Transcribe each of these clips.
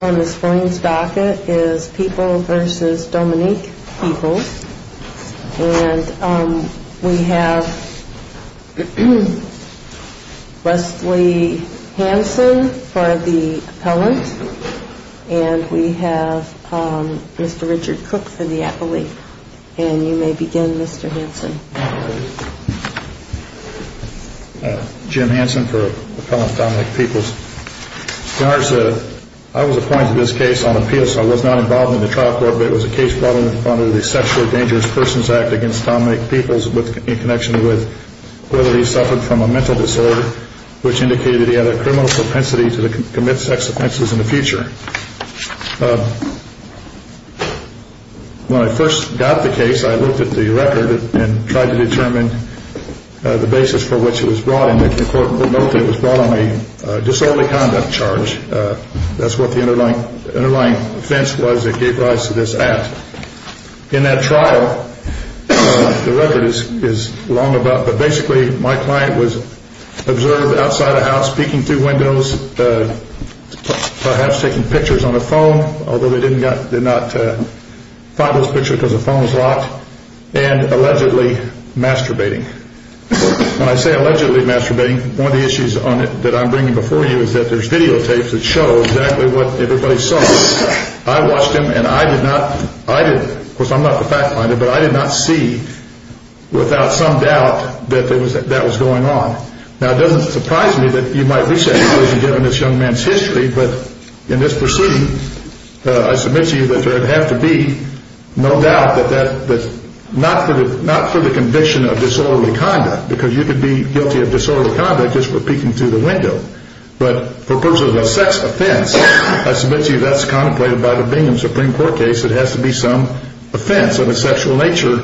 On this morning's docket is People v. Dominique Peoples. And we have Wesley Hanson for the appellant. And we have Mr. Richard Cook for the appellate. And you may begin, Mr. Hanson. Jim Hanson for Dominique Peoples. I was appointed to this case on appeal so I was not involved in the trial court but it was a case brought in front of the Sexually Dangerous Persons Act against Dominique Peoples in connection with whether he suffered from a mental disorder which indicated he had a criminal propensity to commit sex offenses in the future. When I first got the case I looked at the record and tried to determine the basis for which it was brought in. The court noted it was brought on a disorderly conduct charge. That's what the underlying offense was that gave rise to this act. In that trial, the record is long enough, but basically my client was observed outside a house, peeking through windows, perhaps taking pictures on a phone, although they did not find this picture because the phone was locked, and allegedly masturbating. When I say allegedly masturbating, one of the issues that I'm bringing before you is that there's videotapes that show exactly what everybody saw. I watched them and I did not, of course I'm not the fact finder, but I did not see without some doubt that that was going on. Now it doesn't surprise me that you might be sexually aggrieved in this young man's history, but in this proceeding, I submit to you that there would have to be no doubt that not for the conviction of disorderly conduct, because you could be guilty of disorderly conduct just for peeking through the window, but for purposes of a sex offense, I submit to you that's contemplated by the Bingham Supreme Court case, it has to be some offense of a sexual nature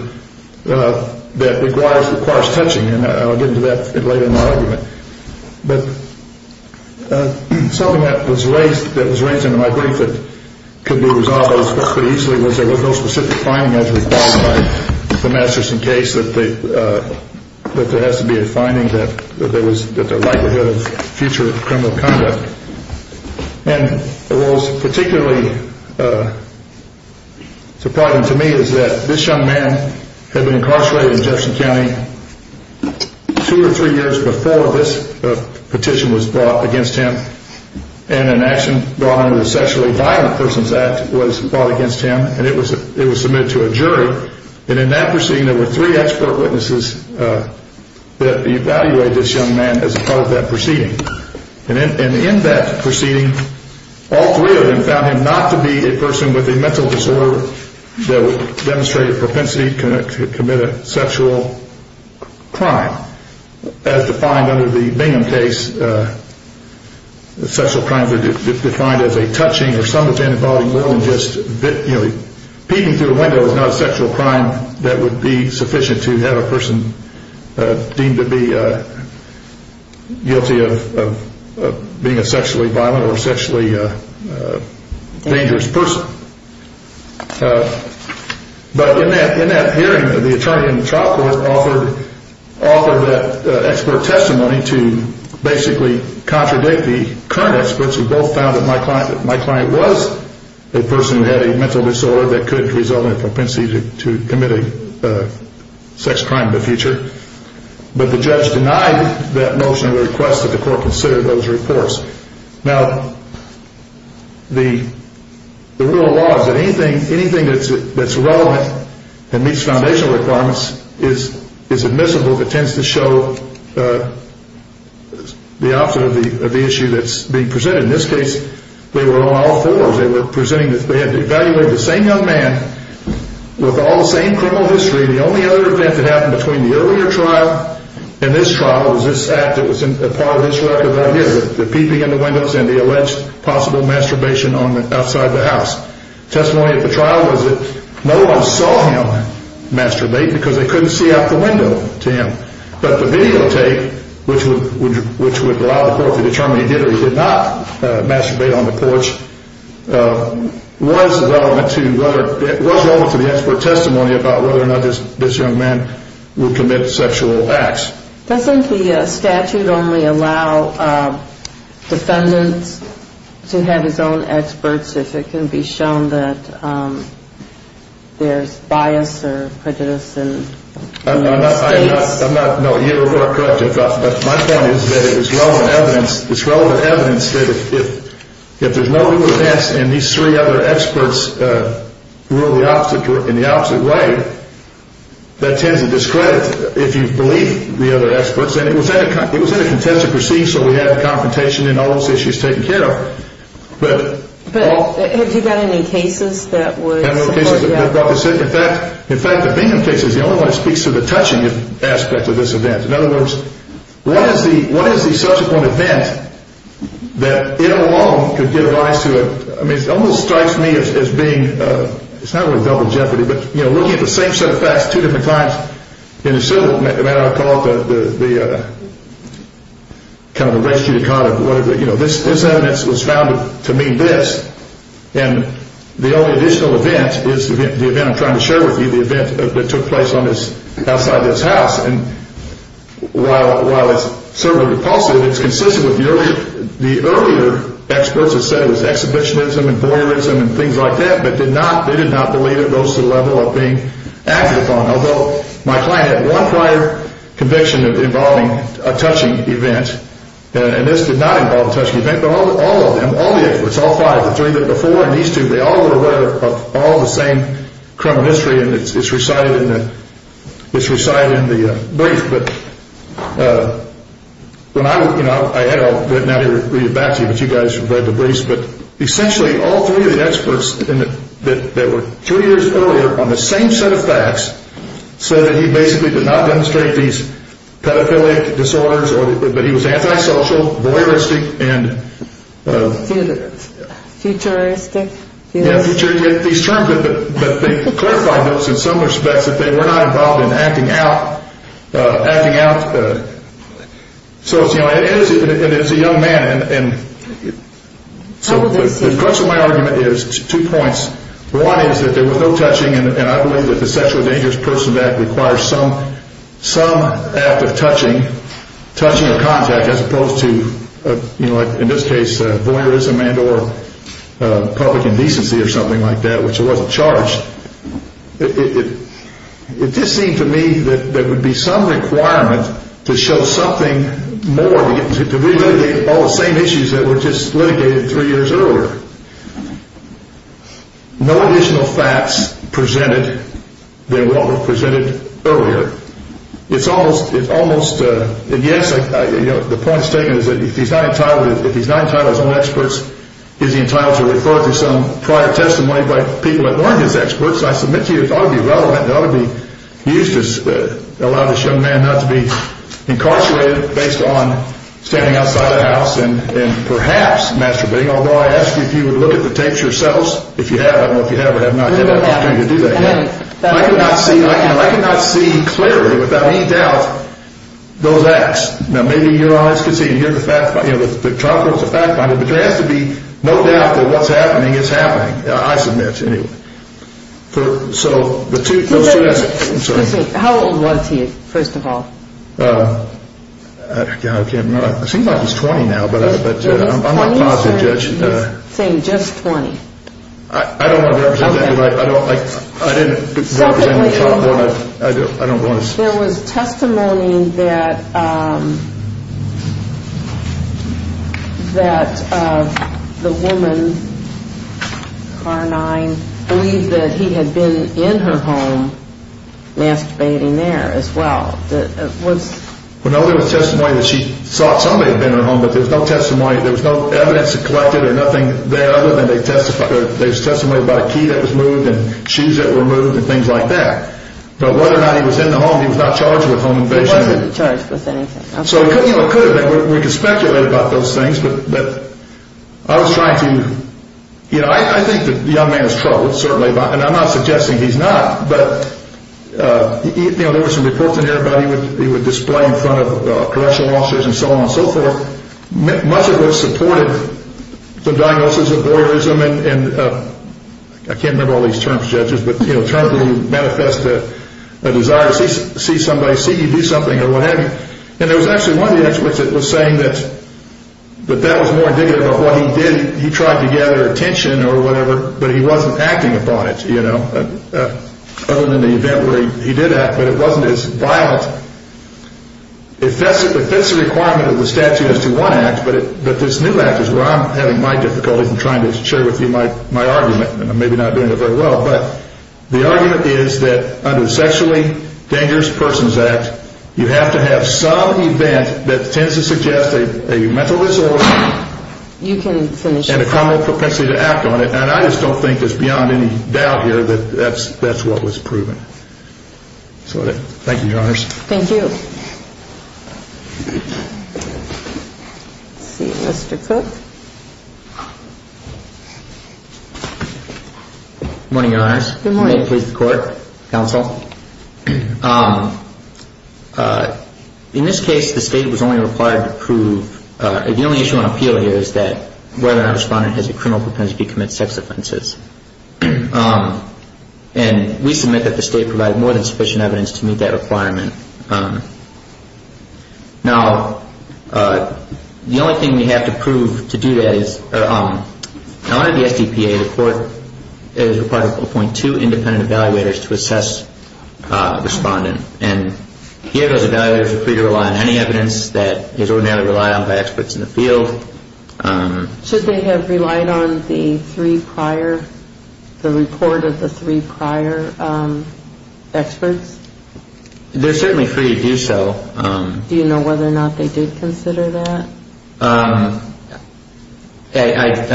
that requires touching. And I'll get into that a bit later in my argument. But something that was raised in my brief that could be resolved pretty easily was there was no specific finding as required by the Masterson case that there has to be a finding that there was the likelihood of future criminal conduct. And what was particularly surprising to me was that this young man had been incarcerated in Jefferson County two or three years before this petition was brought against him and an action brought under the Sexually Violent Persons Act was brought against him and it was submitted to a jury. And in that proceeding, there were three expert witnesses that evaluated this young man as a part of that proceeding. And in that proceeding, all three of them found him not to be a person with a mental disorder that would demonstrate a propensity to commit a sexual crime. Now, as defined under the Bingham case, sexual crimes are defined as a touching or somewhat of an abiding will and just peeking through a window is not a sexual crime that would be sufficient to have a person deemed to be guilty of being a sexually violent or sexually dangerous person. But in that hearing, the attorney in the trial court offered that expert testimony to basically contradict the current experts who both found that my client was a person who had a mental disorder that could result in a propensity to commit a sex crime in the future. But the judge denied that motion and requested that the court consider those reports. Now, the rule of law is that anything that's relevant and meets foundational requirements is admissible but tends to show the opposite of the issue that's being presented. In this case, they were on all fours. They had evaluated the same young man with all the same criminal history. The only other event that happened between the earlier trial and this trial was this act that was a part of this record right here, the peeping in the windows and the alleged possible masturbation outside the house. Testimony of the trial was that no one saw him masturbate because they couldn't see out the window to him. But the videotape, which would allow the court to determine if he did or did not masturbate on the porch, was relevant to the expert testimony about whether or not this young man would commit sexual acts. Doesn't the statute only allow defendants to have his own experts if it can be shown that there's bias or prejudice? No, you're correct. My point is that it's relevant evidence that if there's no evidence and these three other experts rule in the opposite way, that tends to discredit if you believe the other experts. And it was in a contested proceeding, so we had the confrontation and all those issues taken care of. Do you have any cases that would support that? In fact, the Bingham case is the only one that speaks to the touching aspect of this event. In other words, what is the subsequent event that it alone could give rise to? I mean, it almost strikes me as being, it's not really double jeopardy, but looking at the same set of facts two different times in the civil matter, I call it the kind of the race judicata, you know, this evidence was found to mean this. And the only additional event is the event I'm trying to share with you, the event that took place outside this house. And while it's certainly repulsive, it's consistent with the earlier experts that said it was exhibitionism and voyeurism and things like that, but they did not believe it goes to the level of being accurate on. Although my client had one prior conviction involving a touching event, and this did not involve a touching event, but all of them, all the experts, all five, the three that were before and these two, they all were aware of all the same criminal history and it's recited in the brief. But essentially all three of the experts that were two years earlier on the same set of facts said that he basically did not demonstrate these pedophilic disorders, but he was anti-social, voyeuristic and futuristic. These terms, but they clarified those in some respects that they were not involved in acting out, acting out. So it's a young man. And so the crux of my argument is two points. One is that there was no touching and I believe that the sexually dangerous person that requires some act of touching, touching a contact as opposed to, you know, like in this case, voyeurism and or public indecency or something like that, which wasn't charged. It just seemed to me that there would be some requirement to show something more, to relitigate all the same issues that were just litigated three years earlier. No additional facts presented that were presented earlier. It's almost, it's almost a yes. The point is taken is that if he's not entitled, if he's not entitled as one of the experts, is he entitled to refer to some prior testimony by people that weren't his experts? I submit to you, it ought to be relevant, it ought to be used to allow this young man not to be incarcerated based on standing outside of the house and perhaps masturbating. Although I ask you if you would look at the tapes yourselves, if you have, I don't know if you have or have not had the opportunity to do that yet. I cannot see, I cannot see clearly without any doubt those acts. Now maybe your eyes can see and hear the fact, you know, the chronicles of fact finding, but there has to be no doubt that what's happening is happening. I submit to you. How old was he, first of all? I can't remember. It seems like he's 20 now, but I'm a positive judge. He's saying just 20. I don't want to represent anybody, I don't want to. There was testimony that the woman, Car 9, believed that he had been in her home masturbating there as well. Well, no, there was testimony that she thought somebody had been in her home, but there was no testimony, there was no evidence collected or nothing there other than there was testimony about a key that was moved and shoes that were moved and things like that. But whether or not he was in the home, he was not charged with home invasion. He wasn't charged with anything. So it could have been, we can speculate about those things, but I was trying to, you know, I think the young man is troubled, certainly, and I'm not suggesting he's not, but there were some reports in there about he would display in front of correctional officers and so on and so forth. Much of it supported the diagnosis of voyeurism, and I can't remember all these terms, judges, but terms that manifest a desire to see somebody, see you do something or what have you. And there was actually one of the experts that was saying that that was more indicative of what he did. He tried to gather attention or whatever, but he wasn't acting upon it, you know, other than the event where he did act, but it wasn't as violent. It fits the requirement of the statute as to one act, but this new act is where I'm having my difficulties in trying to share with you my argument, and I'm maybe not doing it very well. But the argument is that under the Sexually Dangerous Persons Act, you have to have some event that tends to suggest a mental disorder and a criminal propensity to act on it. And I just don't think it's beyond any doubt here that that's what was proven. Thank you, Your Honors. Thank you. Let's see, Mr. Cook. Good morning, Your Honors. Good morning. May it please the Court, Counsel. In this case, the State was only required to prove, the only issue on appeal here is that whether or not a respondent has a criminal propensity to commit sex offenses. And we submit that the State provided more than sufficient evidence to meet that requirement. Now, the only thing we have to prove to do that is, under the SDPA, the Court is required to appoint two independent evaluators to assess a respondent. And here those evaluators are free to rely on any evidence that is ordinarily relied on by experts in the field. Should they have relied on the three prior, the report of the three prior experts? They're certainly free to do so. Do you know whether or not they did consider that? I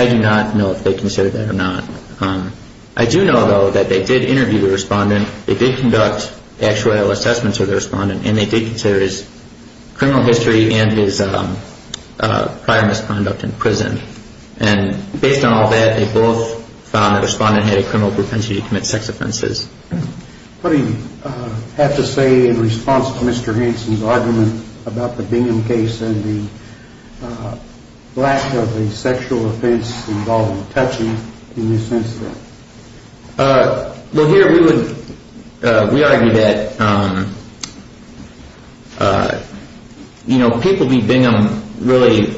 do not know if they considered that or not. I do know, though, that they did interview the respondent. They did conduct actual assessments of the respondent. And they did consider his criminal history and his prior misconduct in prison. And based on all that, they both found that the respondent had a criminal propensity to commit sex offenses. What do you have to say in response to Mr. Hansen's argument about the Bingham case and the lack of a sexual offense involving touching in this instance? Well, here we would, we argue that, you know, people v. Bingham really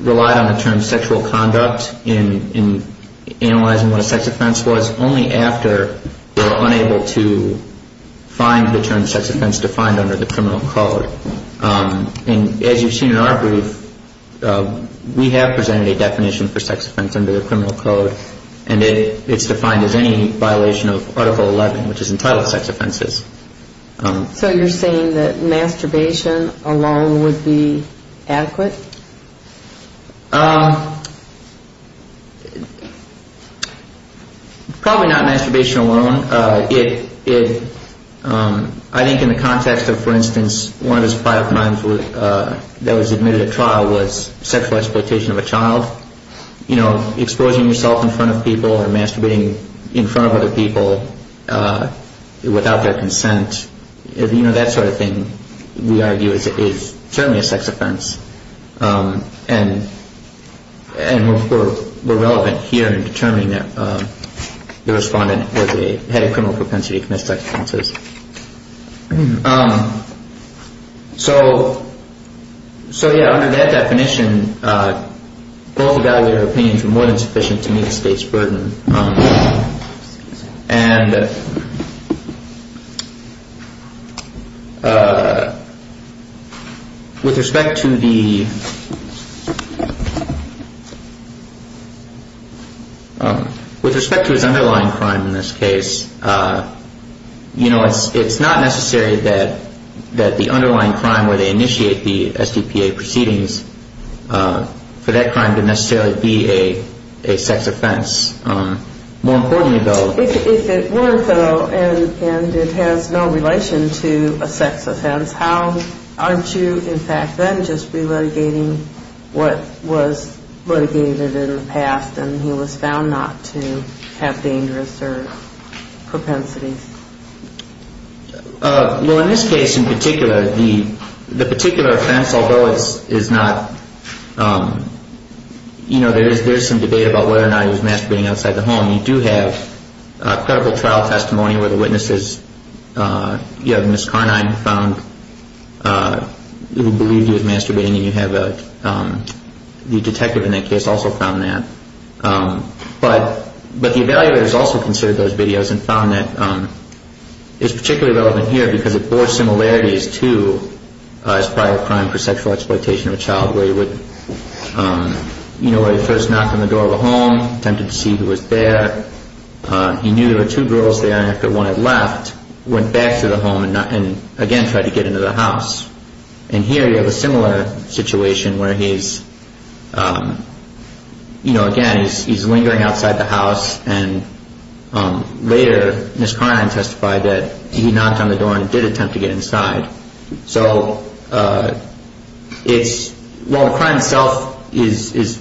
relied on the term sexual conduct in analyzing what a sex offense was only after they were unable to find the term sex offense defined under the criminal code. And as you've seen in our brief, we have presented a definition for sex offense under the criminal code. And it's defined as any violation of Article 11, which is entitled sex offenses. So you're saying that masturbation alone would be adequate? Probably not masturbation alone. I think in the context of, for instance, one of his five crimes that was admitted at trial was sexual exploitation of a child. You know, exposing yourself in front of people or masturbating in front of other people without their consent, you know, that sort of thing, we argue, is certainly a sex offense. And we're relevant here in determining that the respondent had a criminal propensity to commit sex offenses. So. So, yeah, under that definition, both evaluator opinions were more than sufficient to meet the state's burden. And with respect to the. With respect to his underlying crime in this case, you know, it's not necessary that that the underlying crime where they initiate the STPA proceedings for that crime to necessarily be a sex offense. More importantly, though. If it weren't, though, and it has no relation to a sex offense, how aren't you, in fact, then just re-litigating the crime? What was litigated in the past and he was found not to have dangerous propensities? Well, in this case in particular, the particular offense, although it is not, you know, there is some debate about whether or not he was masturbating outside the home. You do have a credible trial testimony where the witnesses, you know, Ms. Carnine found who believed he was masturbating and you have the detective in that case also found that. But the evaluators also considered those videos and found that it's particularly relevant here because it bore similarities to his prior crime for sexual exploitation of a child where he would, you know, he first knocked on the door of the home, attempted to see who was there. He knew there were two girls there and after one had left, went back to the home and again tried to get into the house. And here you have a similar situation where he's, you know, again, he's lingering outside the house and later Ms. Carnine testified that he knocked on the door and did attempt to get inside. So it's, while the crime itself is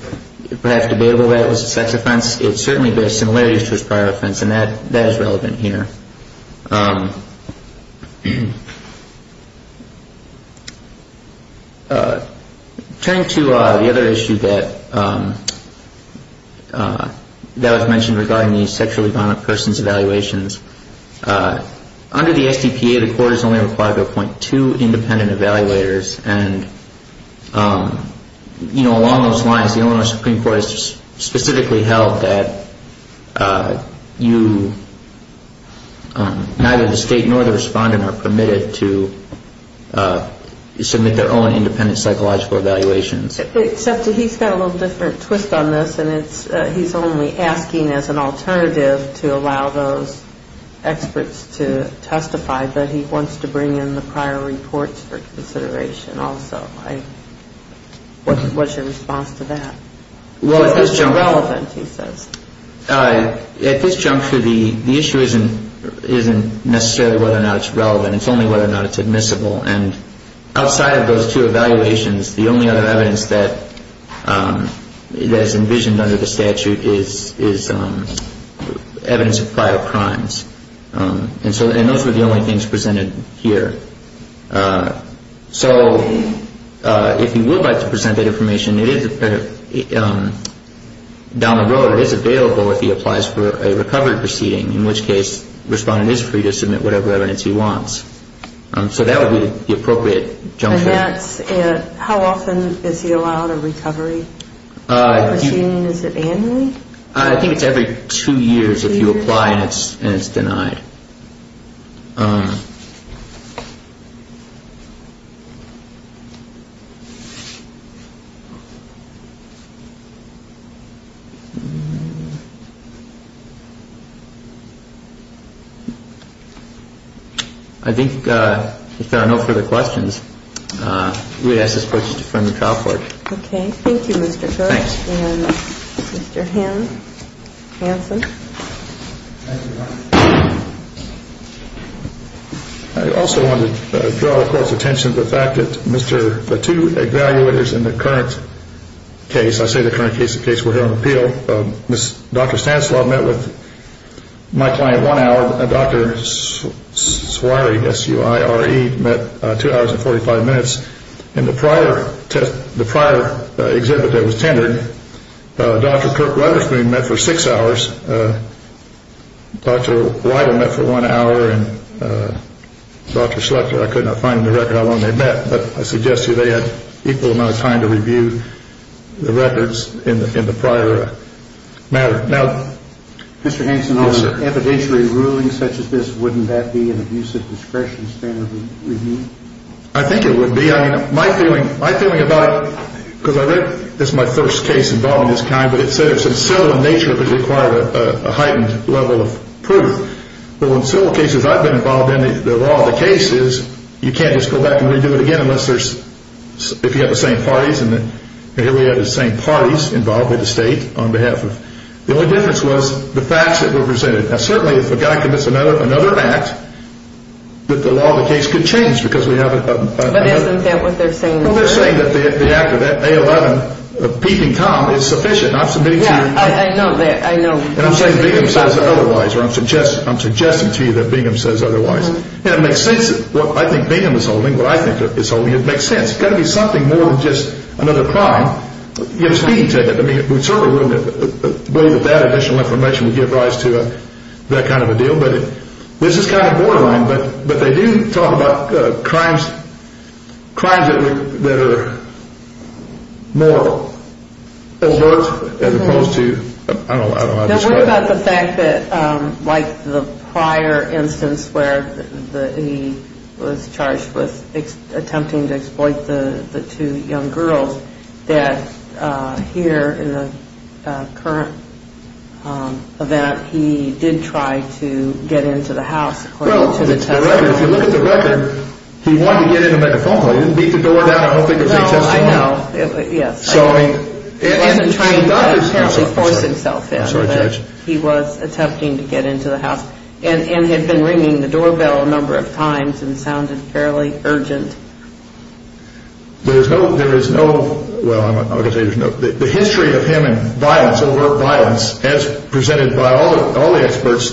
perhaps debatable whether it was a sex offense, it certainly bore similarities to his prior offense and that is relevant here. Turning to the other issue that was mentioned regarding the sexually violent person's evaluations, under the STPA the court is only required to appoint two independent evaluators and, you know, along those lines the Illinois Supreme Court has specifically held that you, neither the state nor the respondent are permitted to submit their own independent psychological evaluations. Except that he's got a little different twist on this and it's, he's only asking as an alternative to allow those experts to testify but he wants to bring in the prior reports for consideration also. What's your response to that? At this juncture the issue isn't necessarily whether or not it's relevant, it's only whether or not it's admissible. And outside of those two evaluations the only other evidence that is envisioned under the statute is evidence of prior crimes. And those were the only things presented here. So if you would like to present that information it is, down the road it is available if he applies for a recovery proceeding in which case the respondent is free to submit whatever evidence he wants. So that would be the appropriate juncture. And that's, how often is he allowed a recovery proceeding? Is it annually? I think it's every two years if you apply and it's denied. I think if there are no further questions we would ask this court to defer to trial court. Okay. Thank you Mr. Gersh. Thanks. And Mr. Hanson. Thank you. I also want to draw the court's attention to the fact that the two evaluators in the current case, I say the current case in case we're here on appeal, Dr. Stanislaw met with my client one hour and Dr. Suarez met two hours and 45 minutes. In the prior exhibit that was tendered, Dr. Kirk Rutherford met for six hours. Dr. Weidel met for one hour and Dr. Schlechter, I could not find in the record how long they met, but I suggest to you they had equal amount of time to review the records in the prior matter. Mr. Hanson, evidentiary ruling such as this, wouldn't that be an abusive discretion standard review? I think it would be. My feeling about it, because I read, this is my first case involving this kind, but it said it's in civil in nature it would require a heightened level of proof. Well in civil cases I've been involved in, the law of the case is you can't just go back and redo it again unless there's, if you have the same parties, and here we have the same parties involved with the state on behalf of, the only difference was the facts that were presented. Now certainly if a guy commits another act, the law of the case could change because we have a But isn't that what they're saying? Well they're saying that the act of that A11, peeping Tom, is sufficient. Yeah, I know that, I know. And I'm saying Bingham says otherwise, or I'm suggesting to you that Bingham says otherwise. And it makes sense, what I think Bingham is holding, what I think is holding, it makes sense. It's got to be something more than just another crime. You have to speak to it. I mean we certainly wouldn't believe that that additional information would give rise to that kind of a deal, but this is kind of borderline, but they do talk about crimes that are more alert as opposed to, I don't know how to describe it. What about the fact that like the prior instance where he was charged with attempting to exploit the two young girls, that here in the current event he did try to get into the house according to the testimony. Well, if you look at the record, he wanted to get in a metaphone, he didn't beat the door down, I don't think it was intentional. Well, I know, yes. He wasn't trying to force himself in. I'm sorry, Judge. He was attempting to get into the house and had been ringing the doorbell a number of times and sounded fairly urgent. There is no, well I'm not going to say there's no, the history of him in violence, overt violence, as presented by all the experts,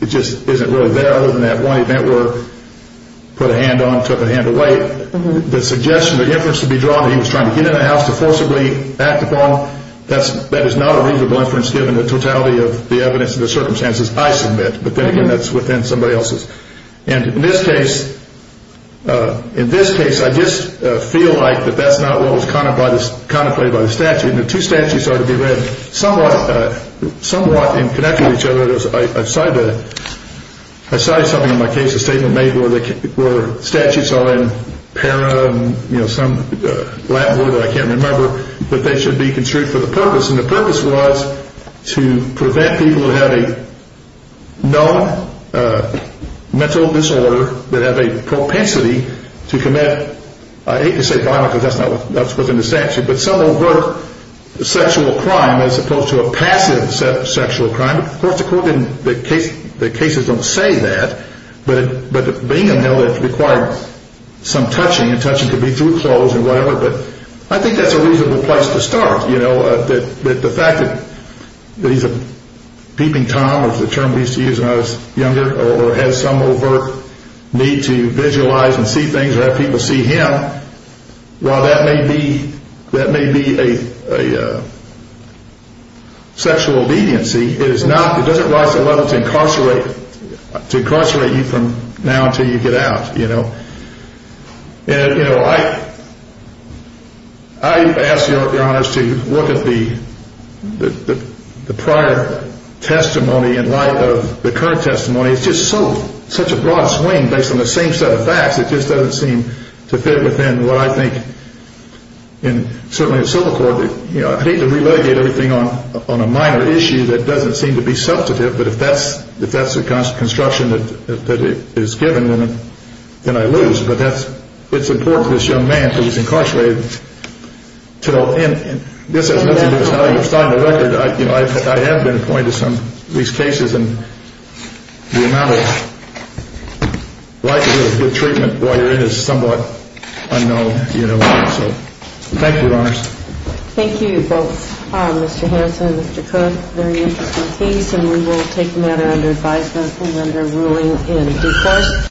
it just isn't really there other than that one event where he put a hand on, took a hand away. The suggestion, the inference to be drawn that he was trying to get in the house to forcibly act upon, that is not a reasonable inference given the totality of the evidence and the circumstances I submit, but then again that's within somebody else's. And in this case, in this case I just feel like that that's not what was contemplated by the statute. And the two statutes are to be read somewhat in connection with each other. I cited something in my case, a statement made where statutes are in para, you know, some Latin word that I can't remember, that they should be construed for the purpose. And the purpose was to prevent people who have a known mental disorder that have a propensity to commit, I hate to say violence because that's not what's in the statute, but some overt sexual crime as opposed to a passive sexual crime. Of course according to the case, the cases don't say that, but being in hell it required some touching, and touching could be through clothes and whatever, but I think that's a reasonable place to start. You know, the fact that he's a peeping Tom, which is a term we used to use when I was younger, or has some overt need to visualize and see things or have people see him, while that may be a sexual obediency, it doesn't rise to the level to incarcerate you from now until you get out. I ask your honors to look at the prior testimony in light of the current testimony. It's just such a broad swing based on the same set of facts. It just doesn't seem to fit within what I think, and certainly the civil court, I hate to relegate everything on a minor issue that doesn't seem to be substantive, but if that's the construction that is given, then I lose. But it's important to this young man who was incarcerated. And this has nothing to do with how you've signed the record. I have been appointed to some of these cases, and the amount of likelihood of good treatment while you're in it is somewhat unknown. So thank you, your honors. Thank you both, Mr. Harrison and Mr. Cook. Very interesting case, and we will take matter under advisement and under ruling in due course.